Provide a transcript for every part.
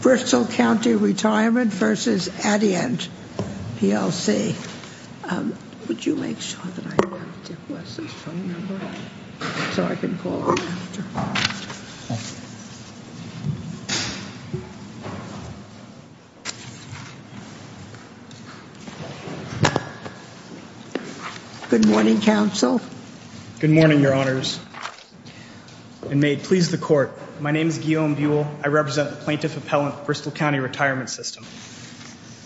Bristol County Retirement versus Adient PLC. Would you make sure that I have Dick West's phone number so I can call him after. Good morning, counsel. Good morning, your honors. And may it please the court, my name is Guillaume Buell. I represent the Plaintiff Appellant Bristol County Retirement System.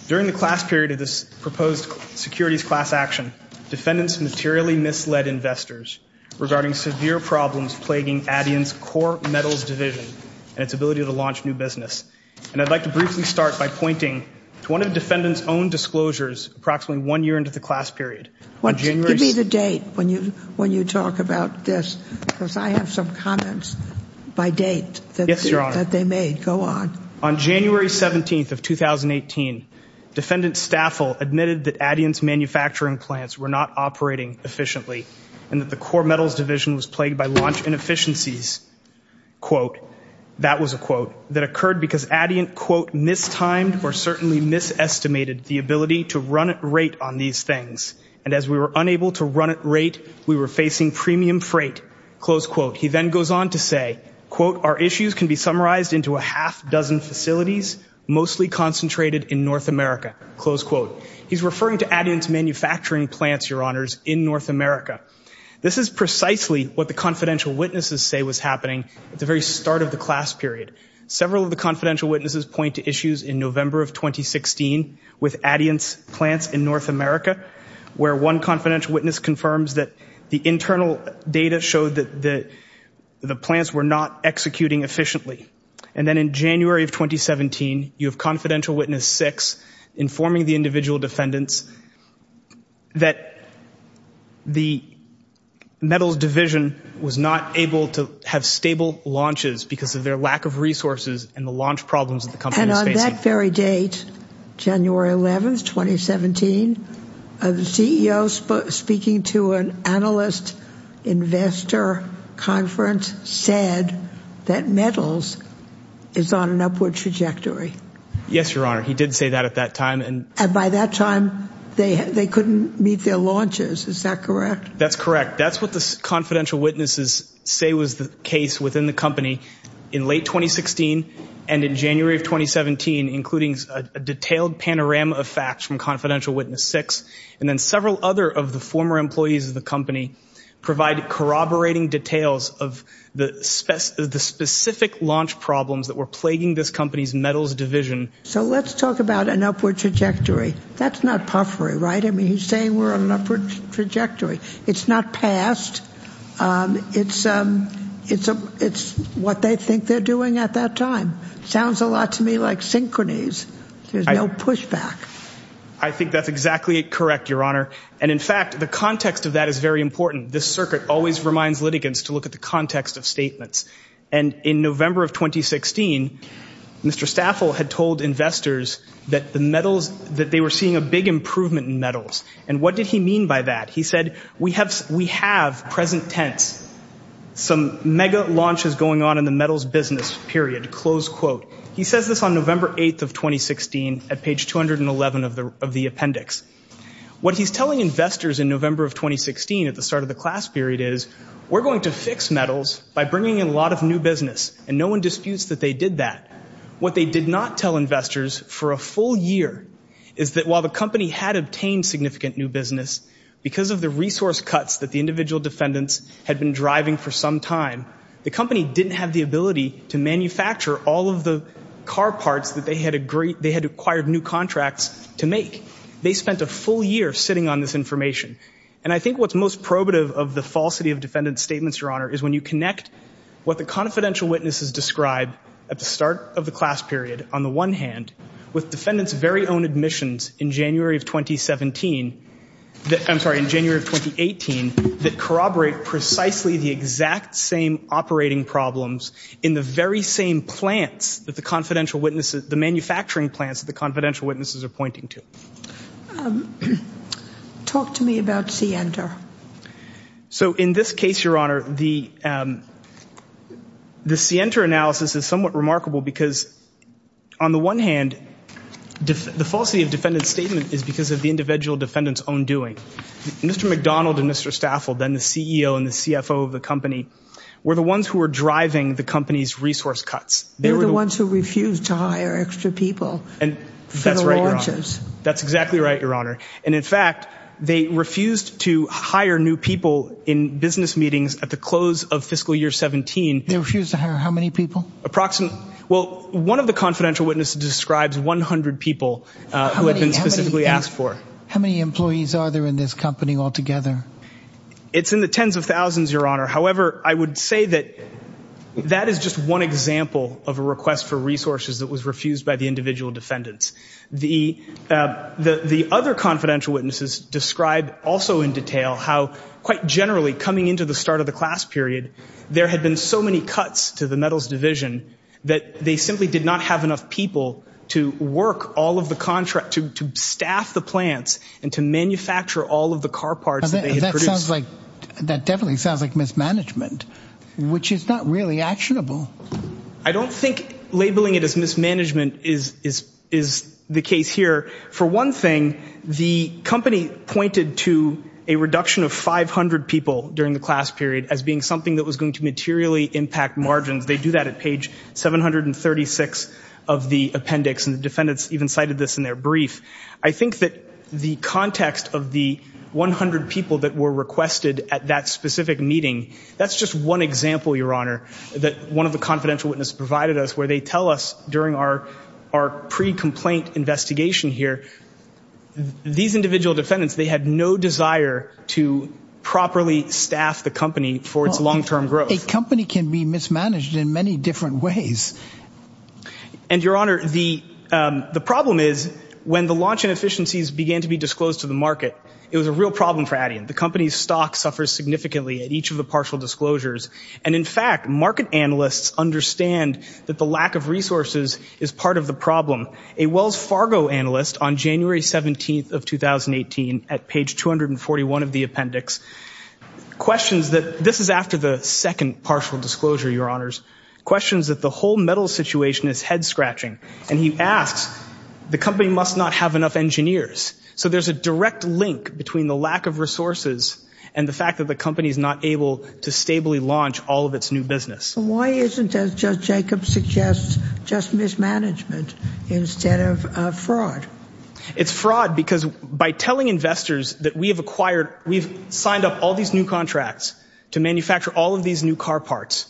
During the class period of this proposed securities class action, defendants materially misled investors regarding severe problems plaguing Adient's core metals division and its ability to launch new business. And I'd like to briefly start by pointing to one of the defendants' own disclosures approximately one year into the class period. Give me the date when you talk about this because I have some comments by date. Yes, your honor. That they made, go on. On January 17th of 2018, defendant Staffel admitted that Adient's manufacturing plants were not operating efficiently and that the core metals division was plagued by launch inefficiencies, quote, that was a quote, that occurred because Adient, quote, mistimed or certainly misestimated the ability to run at rate on these things. And as we were unable to run at rate, we were facing premium freight, close quote. He then goes on to say, quote, our issues can be summarized into a half dozen facilities mostly concentrated in North America, close quote. He's referring to Adient's manufacturing plants, your honors, in North America. This is precisely what the confidential witnesses say was happening at the very start of the class period. Several of the confidential witnesses point to issues in November of 2016 with Adient's plants in North America where one confidential witness confirms that the internal data showed that the plants were not executing efficiently. And then in January of 2017, you have confidential witness six informing the individual defendants that the metals division was not able to have stable launches because of their lack of resources and the launch problems that the company was facing. And on that very date, January 11th, 2017, the CEO speaking to an analyst investor conference said that metals is on an upward trajectory. Yes, your honor, he did say that at that time. And by that time, they couldn't meet their launches. Is that correct? That's correct. That's what the confidential witnesses say was the case within the company in late 2016 and in January of 2017, including a detailed panorama of facts from confidential witness six. And then several other of the former employees of the company provide corroborating details of the specific launch problems that were plaguing this company's metals division. So let's talk about an upward trajectory. That's not puffery, right? I mean, he's saying we're on an upward trajectory. It's not past, it's what they think they're doing at that time. Sounds a lot to me like synchronies. There's no pushback. I think that's exactly correct, your honor. And in fact, the context of that is very important. This circuit always reminds litigants to look at the context of statements. And in November of 2016, Mr. Staffel had told investors that the metals, that they were seeing a big improvement in metals. And what did he mean by that? He said, we have present tense, some mega launches going on in the metals business period, close quote. He says this on November 8th of 2016 at page 211 of the appendix. What he's telling investors in November of 2016 at the start of the class period is, we're going to fix metals by bringing in a lot of new business. And no one disputes that they did that. What they did not tell investors for a full year is that while the company had obtained significant new business, because of the resource cuts that the individual defendants had been driving for some time, the company didn't have the ability to manufacture all of the car parts that they had acquired new contracts to make. They spent a full year sitting on this information. And I think what's most probative of the falsity of defendant's statements, Your Honor, is when you connect what the confidential witnesses described at the start of the class period, on the one hand, with defendants' very own admissions in January of 2017, I'm sorry, in January of 2018, that corroborate precisely the exact same operating problems in the very same plants that the confidential witnesses, the manufacturing plants that the confidential witnesses are pointing to. Talk to me about Sienter. So in this case, Your Honor, the Sienter analysis is somewhat remarkable because on the one hand, the falsity of defendant's statement is because of the individual defendants' own doing. Mr. McDonald and Mr. Stafford, then the CEO and the CFO of the company, were the ones who were driving the company's resource cuts. They were the ones who refused to hire extra people for the launches. That's exactly right, Your Honor. And in fact, they refused to hire new people in business meetings at the close of fiscal year 17. They refused to hire how many people? Approximately, well, one of the confidential witnesses describes 100 people who had been specifically asked for. How many employees are there in this company altogether? It's in the tens of thousands, Your Honor. However, I would say that that is just one example of a request for resources that was refused by the individual defendants. The other confidential witnesses describe also in detail how quite generally, coming into the start of the class period, there had been so many cuts to the metals division that they simply did not have enough people to work all of the contract, to staff the plants and to manufacture all of the car parts that they had produced. That definitely sounds like mismanagement, which is not really actionable. I don't think labeling it as mismanagement is the case here. For one thing, the company pointed to a reduction of 500 people during the class period as being something that was going to materially impact margins. They do that at page 736 of the appendix, and the defendants even cited this in their brief. I think that the context of the 100 people that were requested at that specific meeting, that's just one example, Your Honor, that one of the confidential witnesses provided us where they tell us during our pre-complaint investigation here, these individual defendants, they had no desire to properly staff the company for its long-term growth. A company can be mismanaged in many different ways. And Your Honor, the problem is when the launch inefficiencies began to be disclosed to the market, it was a real problem for Adyan. The company's stock suffers significantly at each of the partial disclosures. And in fact, market analysts understand that the lack of resources is part of the problem. A Wells Fargo analyst on January 17th of 2018 at page 241 of the appendix, questions that, this is after the second partial disclosure, Your Honors, questions that the whole metals situation is head-scratching. And he asks, the company must not have enough engineers. So there's a direct link between the lack of resources and the fact that the company's not able to stably launch all of its new business. Why isn't, as Judge Jacobs suggests, just mismanagement instead of fraud? It's fraud because by telling investors that we have acquired, we've signed up all these new contracts to manufacture all of these new car parts,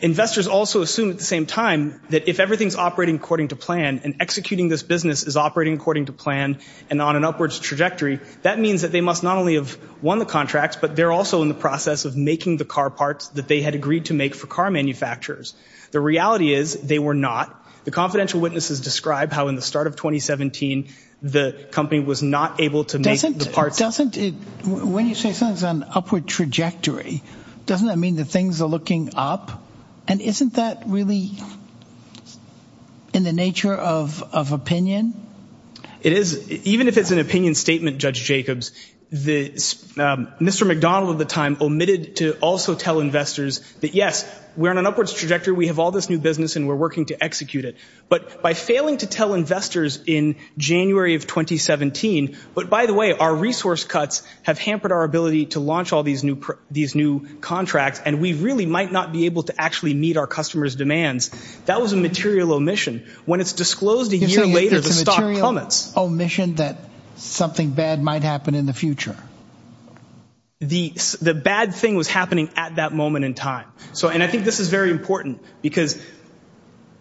investors also assume at the same time that if everything's operating according to plan and executing this business is operating according to plan and on an upwards trajectory, that means that they must not only have won the contracts, but they're also in the process of making the car parts that they had agreed to make for car manufacturers. The reality is they were not. The confidential witnesses describe how in the start of 2017, the company was not able to make the parts. Doesn't it, when you say something's on upward trajectory, doesn't that mean that things are looking up? And isn't that really in the nature of opinion? It is, even if it's an opinion statement, Judge Jacobs. Mr. McDonald at the time omitted to also tell investors that yes, we're on an upwards trajectory, we have all this new business and we're working to execute it, but by failing to tell investors in January of 2017, but by the way, our resource cuts have hampered our ability to launch all these new contracts and we really might not be able to actually meet our customers' demands, that was a material omission. When it's disclosed a year later, the stock plummets. It's a material omission that something bad might happen in the future. The bad thing was happening at that moment in time. So, and I think this is very important because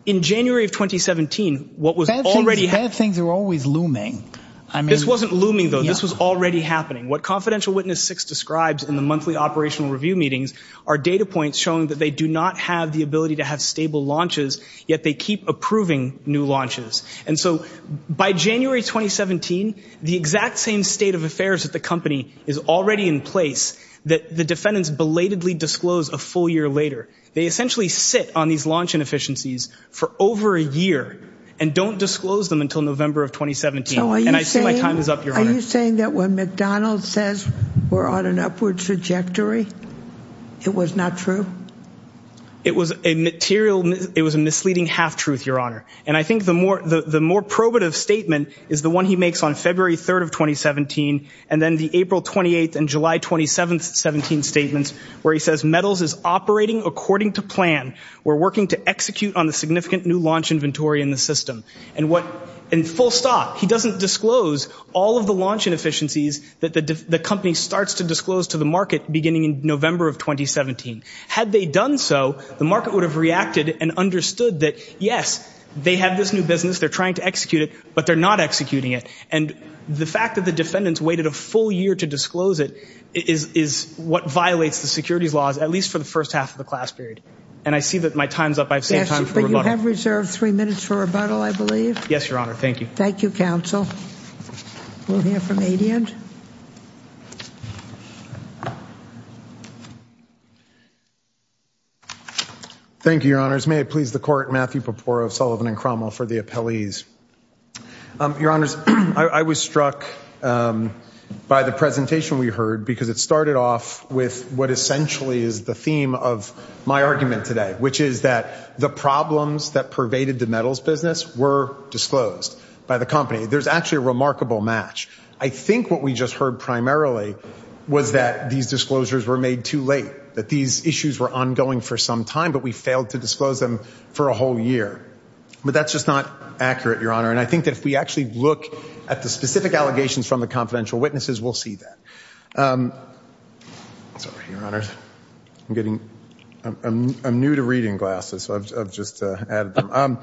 in January of 2017, what was already happening. Bad things are always looming. I mean. This wasn't looming though, this was already happening. What Confidential Witness Six describes in the monthly operational review meetings are data points showing that they do not have the ability to have stable launches, yet they keep approving new launches. And so, by January 2017, the exact same state of affairs at the company is already in place that the defendants belatedly disclose a full year later. They essentially sit on these launch inefficiencies for over a year and don't disclose them until November of 2017. And I see my time is up, Your Honor. Are you saying that when McDonald's says we're on an upward trajectory, it was not true? It was a material, it was a misleading half-truth, Your Honor. And I think the more probative statement is the one he makes on February 3rd of 2017, and then the April 28th and July 27th, 17 statements, where he says, Metals is operating according to plan. We're working to execute on the significant new launch inventory in the system. And what, and full stop. He doesn't disclose all of the launch inefficiencies that the company starts to disclose to the market beginning in November of 2017. Had they done so, the market would have reacted and understood that, yes, they have this new business, they're trying to execute it, but they're not executing it. And the fact that the defendants waited a full year to disclose it is what violates the securities laws, at least for the first half of the class period. And I see that my time's up. I've saved time for rebuttal. Yes, but you have reserved three minutes for rebuttal, I believe. Yes, Your Honor, thank you. Thank you, counsel. We'll hear from Adiant. Adiant. Thank you, Your Honors. May it please the court, Matthew Papora of Sullivan and Cromwell for the appellees. Your Honors, I was struck by the presentation we heard because it started off with what essentially is the theme of my argument today, which is that the problems that pervaded the metals business were disclosed by the company. There's actually a remarkable match. I think what we just heard primarily was that these disclosures were made too late, that these issues were ongoing for some time, but we failed to disclose them for a whole year. But that's just not accurate, Your Honor. And I think that if we actually look at the specific allegations from the confidential witnesses, we'll see that. Sorry, Your Honors. I'm getting, I'm new to reading glasses, so I've just added them.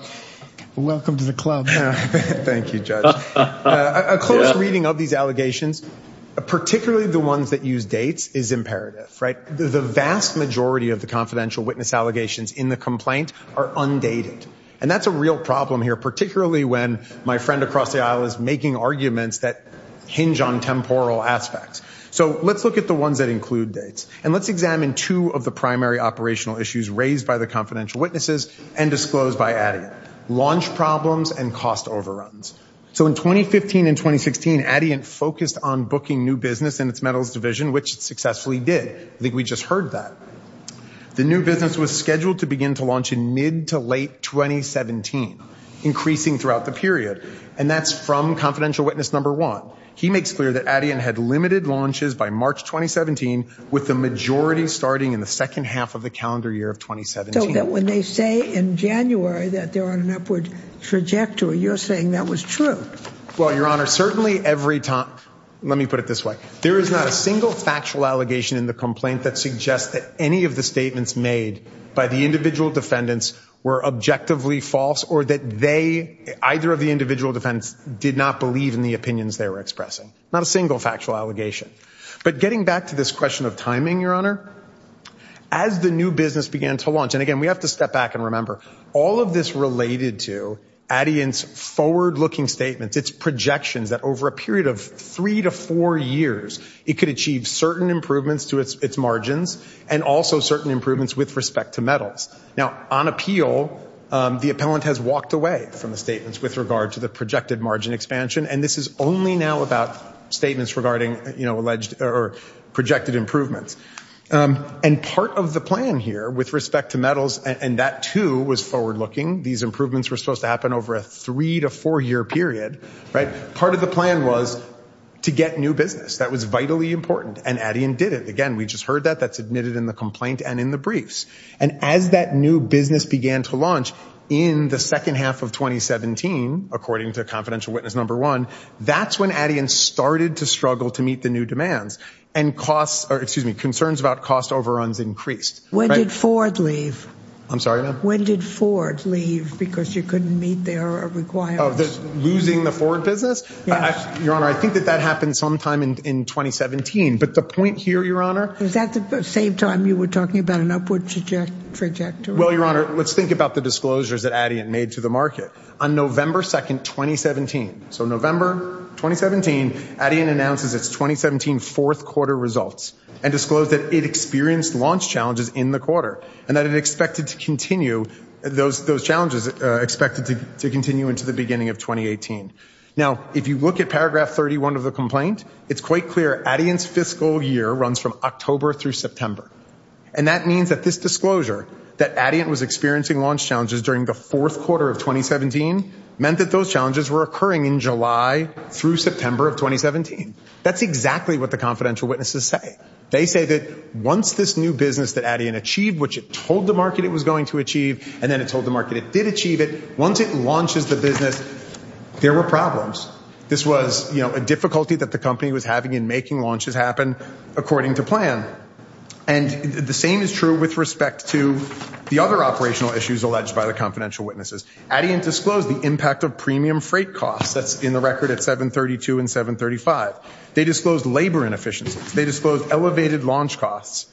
Welcome to the club. Thank you, Judge. A close reading of these allegations, particularly the ones that use dates, is imperative, right? The vast majority of the confidential witness allegations in the complaint are undated. And that's a real problem here, particularly when my friend across the aisle is making arguments that hinge on temporal aspects. So let's look at the ones that include dates. And let's examine two of the primary operational issues raised by the confidential witnesses and disclosed by Addyant, launch problems and cost overruns. So in 2015 and 2016, Addyant focused on booking new business in its metals division, which it successfully did. I think we just heard that. The new business was scheduled to begin to launch in mid to late 2017, increasing throughout the period. And that's from confidential witness number one. He makes clear that Addyant had limited launches by March 2017, with the majority starting in the second half of the calendar year of 2017. So when they say in January that they're on an upward trajectory, you're saying that was true. Well, Your Honor, certainly every time, let me put it this way. There is not a single factual allegation in the complaint that suggests that any of the statements made by the individual defendants were objectively false or that they, either of the individual defendants, did not believe in the opinions they were expressing. Not a single factual allegation. But getting back to this question of timing, Your Honor, as the new business began to launch, and again, we have to step back and remember, all of this related to Addyant's forward-looking statements, its projections that over a period of three to four years, it could achieve certain improvements to its margins and also certain improvements with respect to metals. Now, on appeal, the appellant has walked away from the statements with regard to the projected margin expansion, and this is only now about statements regarding alleged or projected improvements. And part of the plan here with respect to metals, and that too was forward-looking, these improvements were supposed to happen over a three to four-year period, right? Part of the plan was to get new business. That was vitally important, and Addyant did it. Again, we just heard that. That's admitted in the complaint and in the briefs. And as that new business began to launch in the second half of 2017, according to confidential witness number one, that's when Addyant started to struggle to meet the new demands and costs, or excuse me, concerns about cost overruns increased. When did Ford leave? I'm sorry, ma'am? When did Ford leave, because you couldn't meet their requirements? Losing the Ford business? Yes. Your Honor, I think that that happened sometime in 2017, but the point here, Your Honor- Was that the same time you were talking about an upward trajectory? Well, Your Honor, let's think about the disclosures that Addyant made to the market. On November 2nd, 2017, so November 2017, Addyant announces its 2017 fourth quarter results and disclosed that it experienced launch challenges in the quarter and that it expected to continue, those challenges expected to continue into the beginning of 2018. Now, if you look at paragraph 31 of the complaint, it's quite clear Addyant's fiscal year runs from October through September. And that means that this disclosure, that Addyant was experiencing launch challenges during the fourth quarter of 2017, meant that those challenges were occurring in July through September of 2017. That's exactly what the confidential witnesses say. They say that once this new business that Addyant achieved, which it told the market it was going to achieve, and then it told the market it did achieve it, once it launches the business, there were problems. This was a difficulty that the company was having in making launches happen according to plan. And the same is true with respect to the other operational issues alleged by the confidential witnesses. Addyant disclosed the impact of premium freight costs. That's in the record at 732 and 735. They disclosed labor inefficiencies. They disclosed elevated launch costs.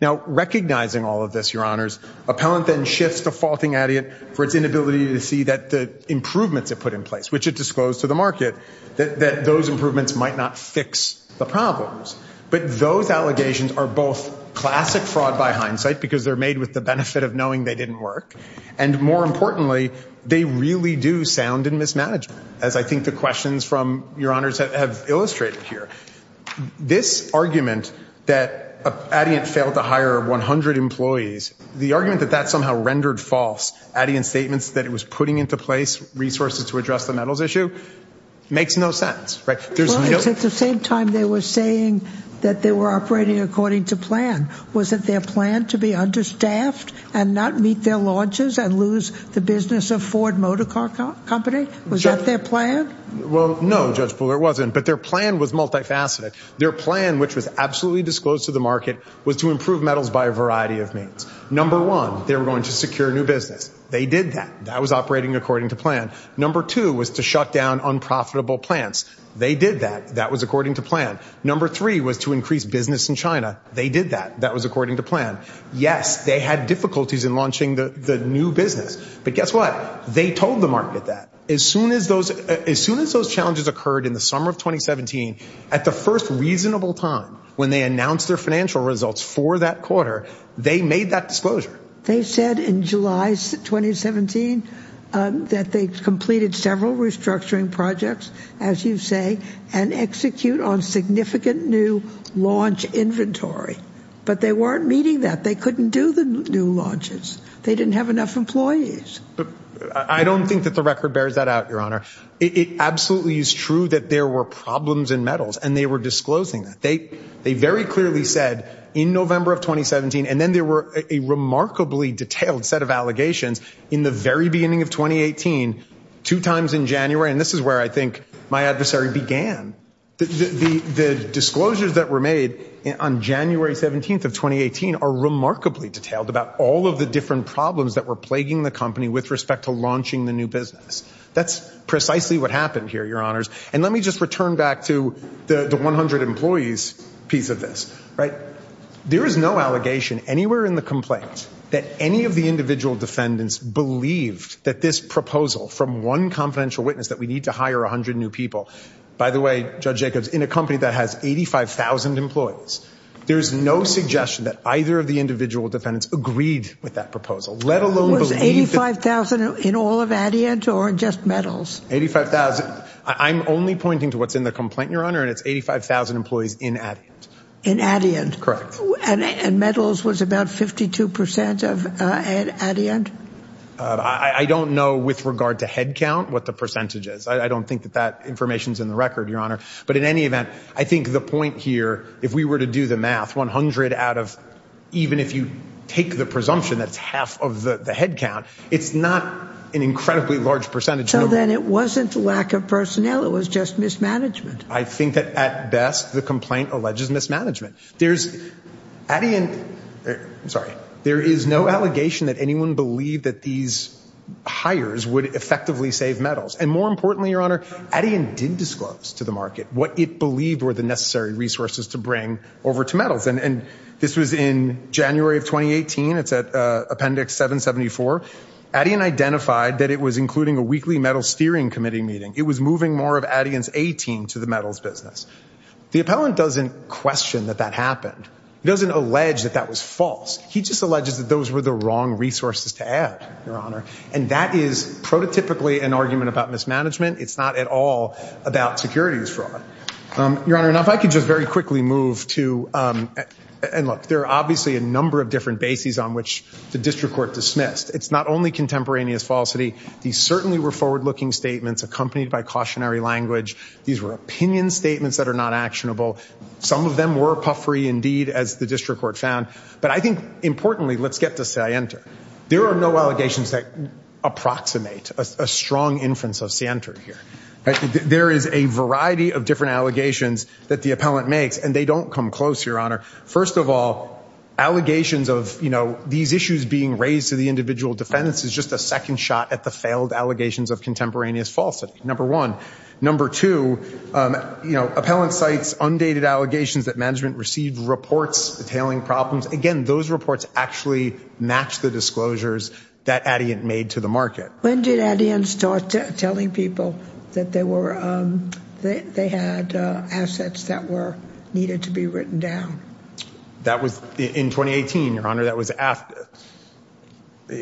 Now, recognizing all of this, your honors, appellant then shifts to faulting Addyant for its inability to see that the improvements it put in place, which it disclosed to the market, that those improvements might not fix the problems. But those allegations are both classic fraud by hindsight, because they're made with the benefit of knowing they didn't work, and more importantly, they really do sound in mismanagement, as I think the questions from your honors have illustrated here. This argument that Addyant failed to hire 100 employees, the argument that that somehow rendered false, Addyant's statements that it was putting into place resources to address the metals issue, makes no sense, right? There's no- Well, it's at the same time they were saying that they were operating according to plan. Was it their plan to be understaffed and not meet their launches and lose the business of Ford Motor Car Company? Was that their plan? Well, no, Judge Buller, it wasn't, but their plan was multifaceted. Their plan, which was absolutely disclosed to the market, was to improve metals by a variety of means. Number one, they were going to secure new business. They did that. That was operating according to plan. Number two was to shut down unprofitable plants. They did that. That was according to plan. Number three was to increase business in China. They did that. That was according to plan. Yes, they had difficulties in launching the new business, but guess what? They told the market that. As soon as those challenges occurred in the summer of 2017, at the first reasonable time when they announced their financial results for that quarter, they made that disclosure. They said in July 2017 that they completed several restructuring projects, as you say, and execute on significant new launch inventory, but they weren't meeting that. They couldn't do the new launches. They didn't have enough employees. I don't think that the record bears that out, Your Honor. It absolutely is true that there were problems in metals, and they were disclosing that. They very clearly said in November of 2017, and then there were a remarkably detailed set of allegations in the very beginning of 2018, two times in January, and this is where I think my adversary began. The disclosures that were made on January 17th of 2018 are remarkably detailed about all of the different problems that were plaguing the company with respect to launching the new business. That's precisely what happened here, Your Honors, and let me just return back to the 100 employees piece of this, right? There is no allegation anywhere in the complaint that any of the individual defendants believed that this proposal from one confidential witness that we need to hire 100 new people, by the way, Judge Jacobs, in a company that has 85,000 employees, there's no suggestion that either of the individual defendants agreed with that proposal, let alone believe that- Was 85,000 in all of Adiant or just metals? 85,000. I'm only pointing to what's in the complaint, Your Honor, and it's 85,000 employees in Adiant. In Adiant? Correct. And metals was about 52% of Adiant? I don't know, with regard to head count, what the percentage is. I don't think that that information's in the record, Your Honor, but in any event, I think the point here, if we were to do the math, 100 out of, even if you take the presumption that it's half of the head count, it's not an incredibly large percentage. So then it wasn't lack of personnel, it was just mismanagement. I think that, at best, the complaint alleges mismanagement. There's, Adiant, sorry, there is no allegation that anyone believed that these hires would effectively save metals. And more importantly, Your Honor, Adiant did disclose to the market what it believed were the necessary resources to bring over to metals. And this was in January of 2018, it's at Appendix 774. Adiant identified that it was including a weekly metals steering committee meeting. It was moving more of Adiant's A team to the metals business. The appellant doesn't question that that happened. He doesn't allege that that was false. He just alleges that those were the wrong resources to add, Your Honor. And that is prototypically an argument about mismanagement. It's not at all about securities fraud. Your Honor, now if I could just very quickly move to, and look, there are obviously a number of different bases on which the district court dismissed. It's not only contemporaneous falsity. These certainly were forward-looking statements accompanied by cautionary language. These were opinion statements that are not actionable. Some of them were puffery indeed, as the district court found. But I think importantly, let's get to Sienter. There are no allegations that approximate a strong inference of Sienter here. There is a variety of different allegations that the appellant makes, and they don't come close, Your Honor. First of all, allegations of these issues being raised to the individual defendants is just a second shot at the failed allegations of contemporaneous falsity, number one. Number two, appellant cites undated allegations that management received reports detailing problems. Again, those reports actually match the disclosures that Adiant made to the market. When did Adiant start telling people that they had assets that needed to be written down? That was in 2018, Your Honor. It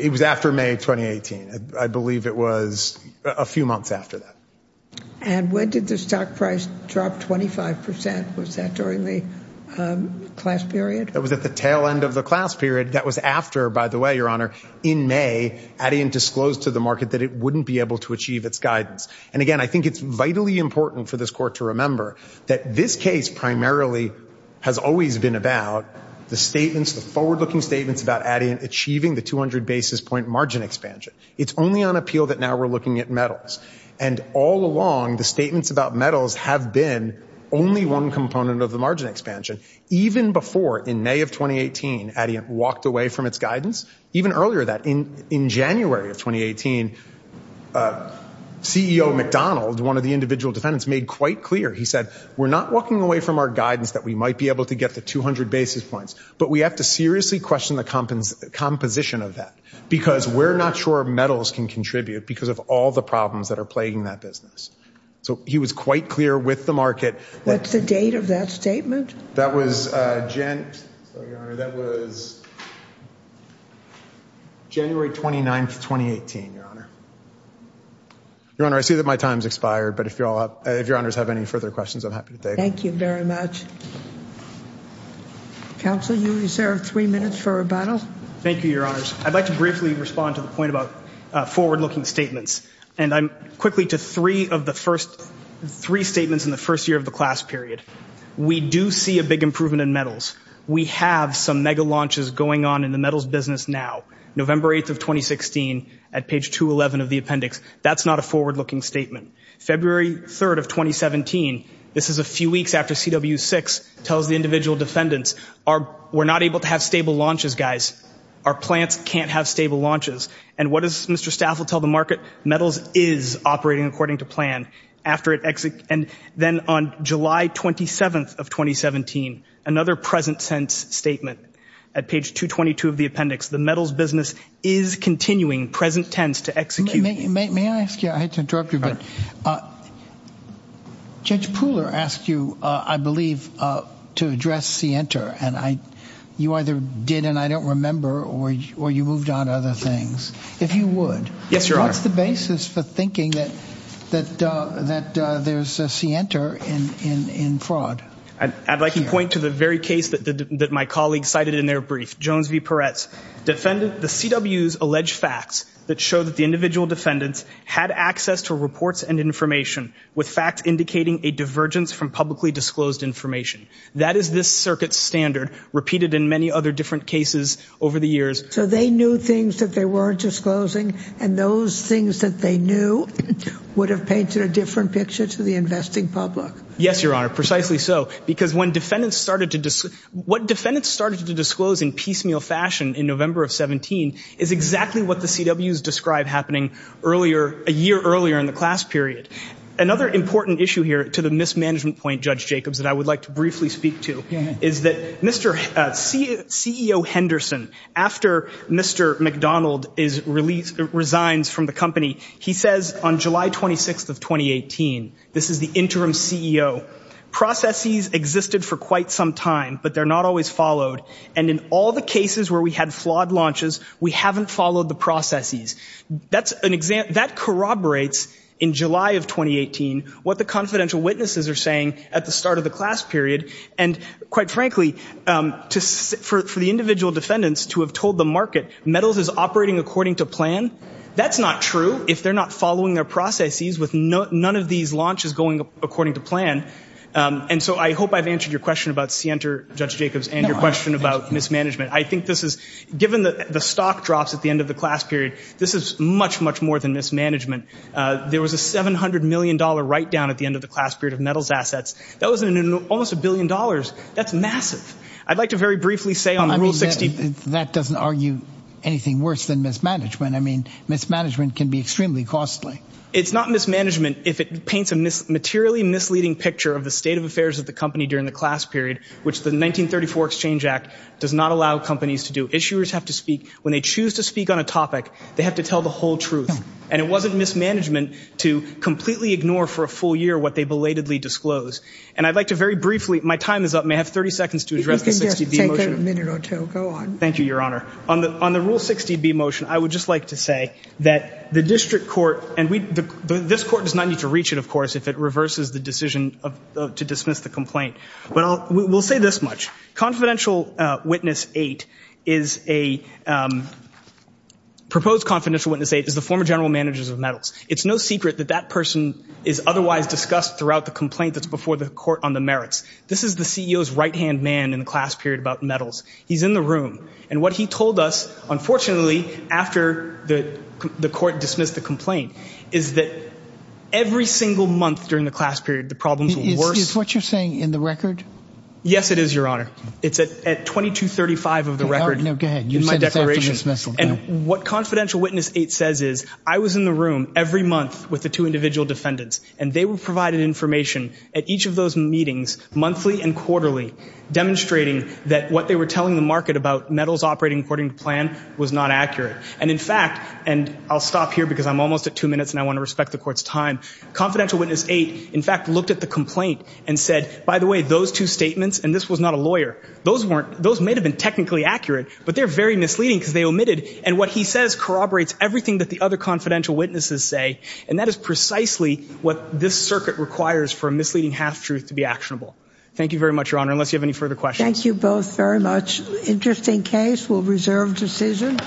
was after May 2018. I believe it was a few months after that. And when did the stock price drop 25%? Was that during the class period? That was at the tail end of the class period. That was after, by the way, Your Honor, in May, Adiant disclosed to the market that it wouldn't be able to achieve its guidance. And again, I think it's vitally important for this court to remember that this case primarily has always been about the statements, the forward-looking statements about Adiant achieving the 200 basis point margin expansion. It's only on appeal that now we're looking at metals. And all along, the statements about metals have been only one component of the margin expansion. Even before, in May of 2018, Adiant walked away from its guidance. Even earlier than that, in January of 2018, CEO McDonald, one of the individual defendants, made quite clear, he said, we're not walking away from our guidance that we might be able to get the 200 basis points, but we have to seriously question the composition of that because we're not sure metals can contribute because of all the problems that are plaguing that business. So he was quite clear with the market. What's the date of that statement? That was January 29th, 2018, Your Honor. Your Honor, I see that my time's expired, but if Your Honors have any further questions, I'm happy to take them. Thank you very much. Counsel, you reserve three minutes for rebuttal. Thank you, Your Honors. I'd like to briefly respond to the point about forward-looking statements. And I'm quickly to three of the first, three statements in the first year of the class period. We do see a big improvement in metals. We have some mega launches going on in the metals business now. November 8th of 2016, at page 211 of the appendix. That's not a forward-looking statement. February 3rd of 2017, this is a few weeks after CW6 tells the individual defendants, we're not able to have stable launches, guys. Our plants can't have stable launches. And what does Mr. Staffel tell the market? Metals is operating according to plan. And then on July 27th of 2017, another present-sense statement. At page 222 of the appendix, the metals business is continuing present-tense to execute. May I ask you, I hate to interrupt you, but Judge Pooler asked you, I believe, to address Sienta. And you either did, and I don't remember, or you moved on to other things. If you would. Yes, Your Honor. What's the basis for thinking that there's a Sienta in fraud? I'd like to point to the very case that my colleagues cited in their brief. Jones v. Peretz defended the CW's alleged facts that showed that the individual defendants had access to reports and information, with facts indicating a divergence from publicly disclosed information. That is this circuit's standard, repeated in many other different cases over the years. So they knew things that they weren't disclosing, and those things that they knew would have painted a different picture to the investing public. Yes, Your Honor, precisely so. Because when defendants started to, what defendants started to disclose in piecemeal fashion in November of 17 is exactly what the CW's describe happening a year earlier in the class period. Another important issue here, to the mismanagement point, Judge Jacobs, that I would like to briefly speak to is that CEO Henderson, after Mr. McDonald resigns from the company, he says on July 26th of 2018, this is the interim CEO, processes existed for quite some time, but they're not always followed. And in all the cases where we had flawed launches, we haven't followed the processes. That corroborates, in July of 2018, what the confidential witnesses are saying at the start of the class period. And quite frankly, for the individual defendants to have told the market, metals is operating according to plan, that's not true if they're not following their processes with none of these launches going according to plan. And so I hope I've answered your question about Sienta, Judge Jacobs, and your question about mismanagement. I think this is, given the stock drops at the end of the class period, this is much, much more than mismanagement. There was a $700 million write-down at the end of the class period of metals assets. That was in almost a billion dollars. That's massive. I'd like to very briefly say on Rule 60- That doesn't argue anything worse than mismanagement. I mean, mismanagement can be extremely costly. It's not mismanagement if it paints a materially misleading picture of the state of affairs of the company during the class period, which the 1934 Exchange Act does not allow companies to do. Issuers have to speak. When they choose to speak on a topic, they have to tell the whole truth. And it wasn't mismanagement to completely ignore for a full year what they belatedly disclose. And I'd like to very briefly, my time is up, may I have 30 seconds to address the 60B motion? You can just take a minute or two, go on. Thank you, Your Honor. On the Rule 60B motion, I would just like to say that the district court, and this court does not need to reach it, of course, if it reverses the decision to dismiss the complaint. But we'll say this much. Confidential Witness 8 is a, proposed Confidential Witness 8 is the former general managers of metals. It's no secret that that person is otherwise discussed throughout the complaint that's before the court on the merits. This is the CEO's right-hand man in the class period about metals. He's in the room. And what he told us, unfortunately, after the court dismissed the complaint, is that every single month during the class period, the problems were worse. Is what you're saying in the record? Yes, it is, Your Honor. It's at 2235 of the record. No, go ahead, you said it's after dismissal. And what Confidential Witness 8 says is, I was in the room every month with the two individual defendants, and they were provided information at each of those meetings, monthly and quarterly, demonstrating that what they were telling the market about metals operating according to plan was not accurate. And in fact, and I'll stop here because I'm almost at two minutes and I want to respect the court's time. Confidential Witness 8, in fact, looked at the complaint and said, by the way, those two statements, and this was not a lawyer, those may have been technically accurate, but they're very misleading because they omitted. And what he says corroborates everything that the other Confidential Witnesses say. And that is precisely what this circuit requires for a misleading half-truth to be actionable. Thank you very much, Your Honor, unless you have any further questions. Thank you both very much. Interesting case. We'll reserve decision.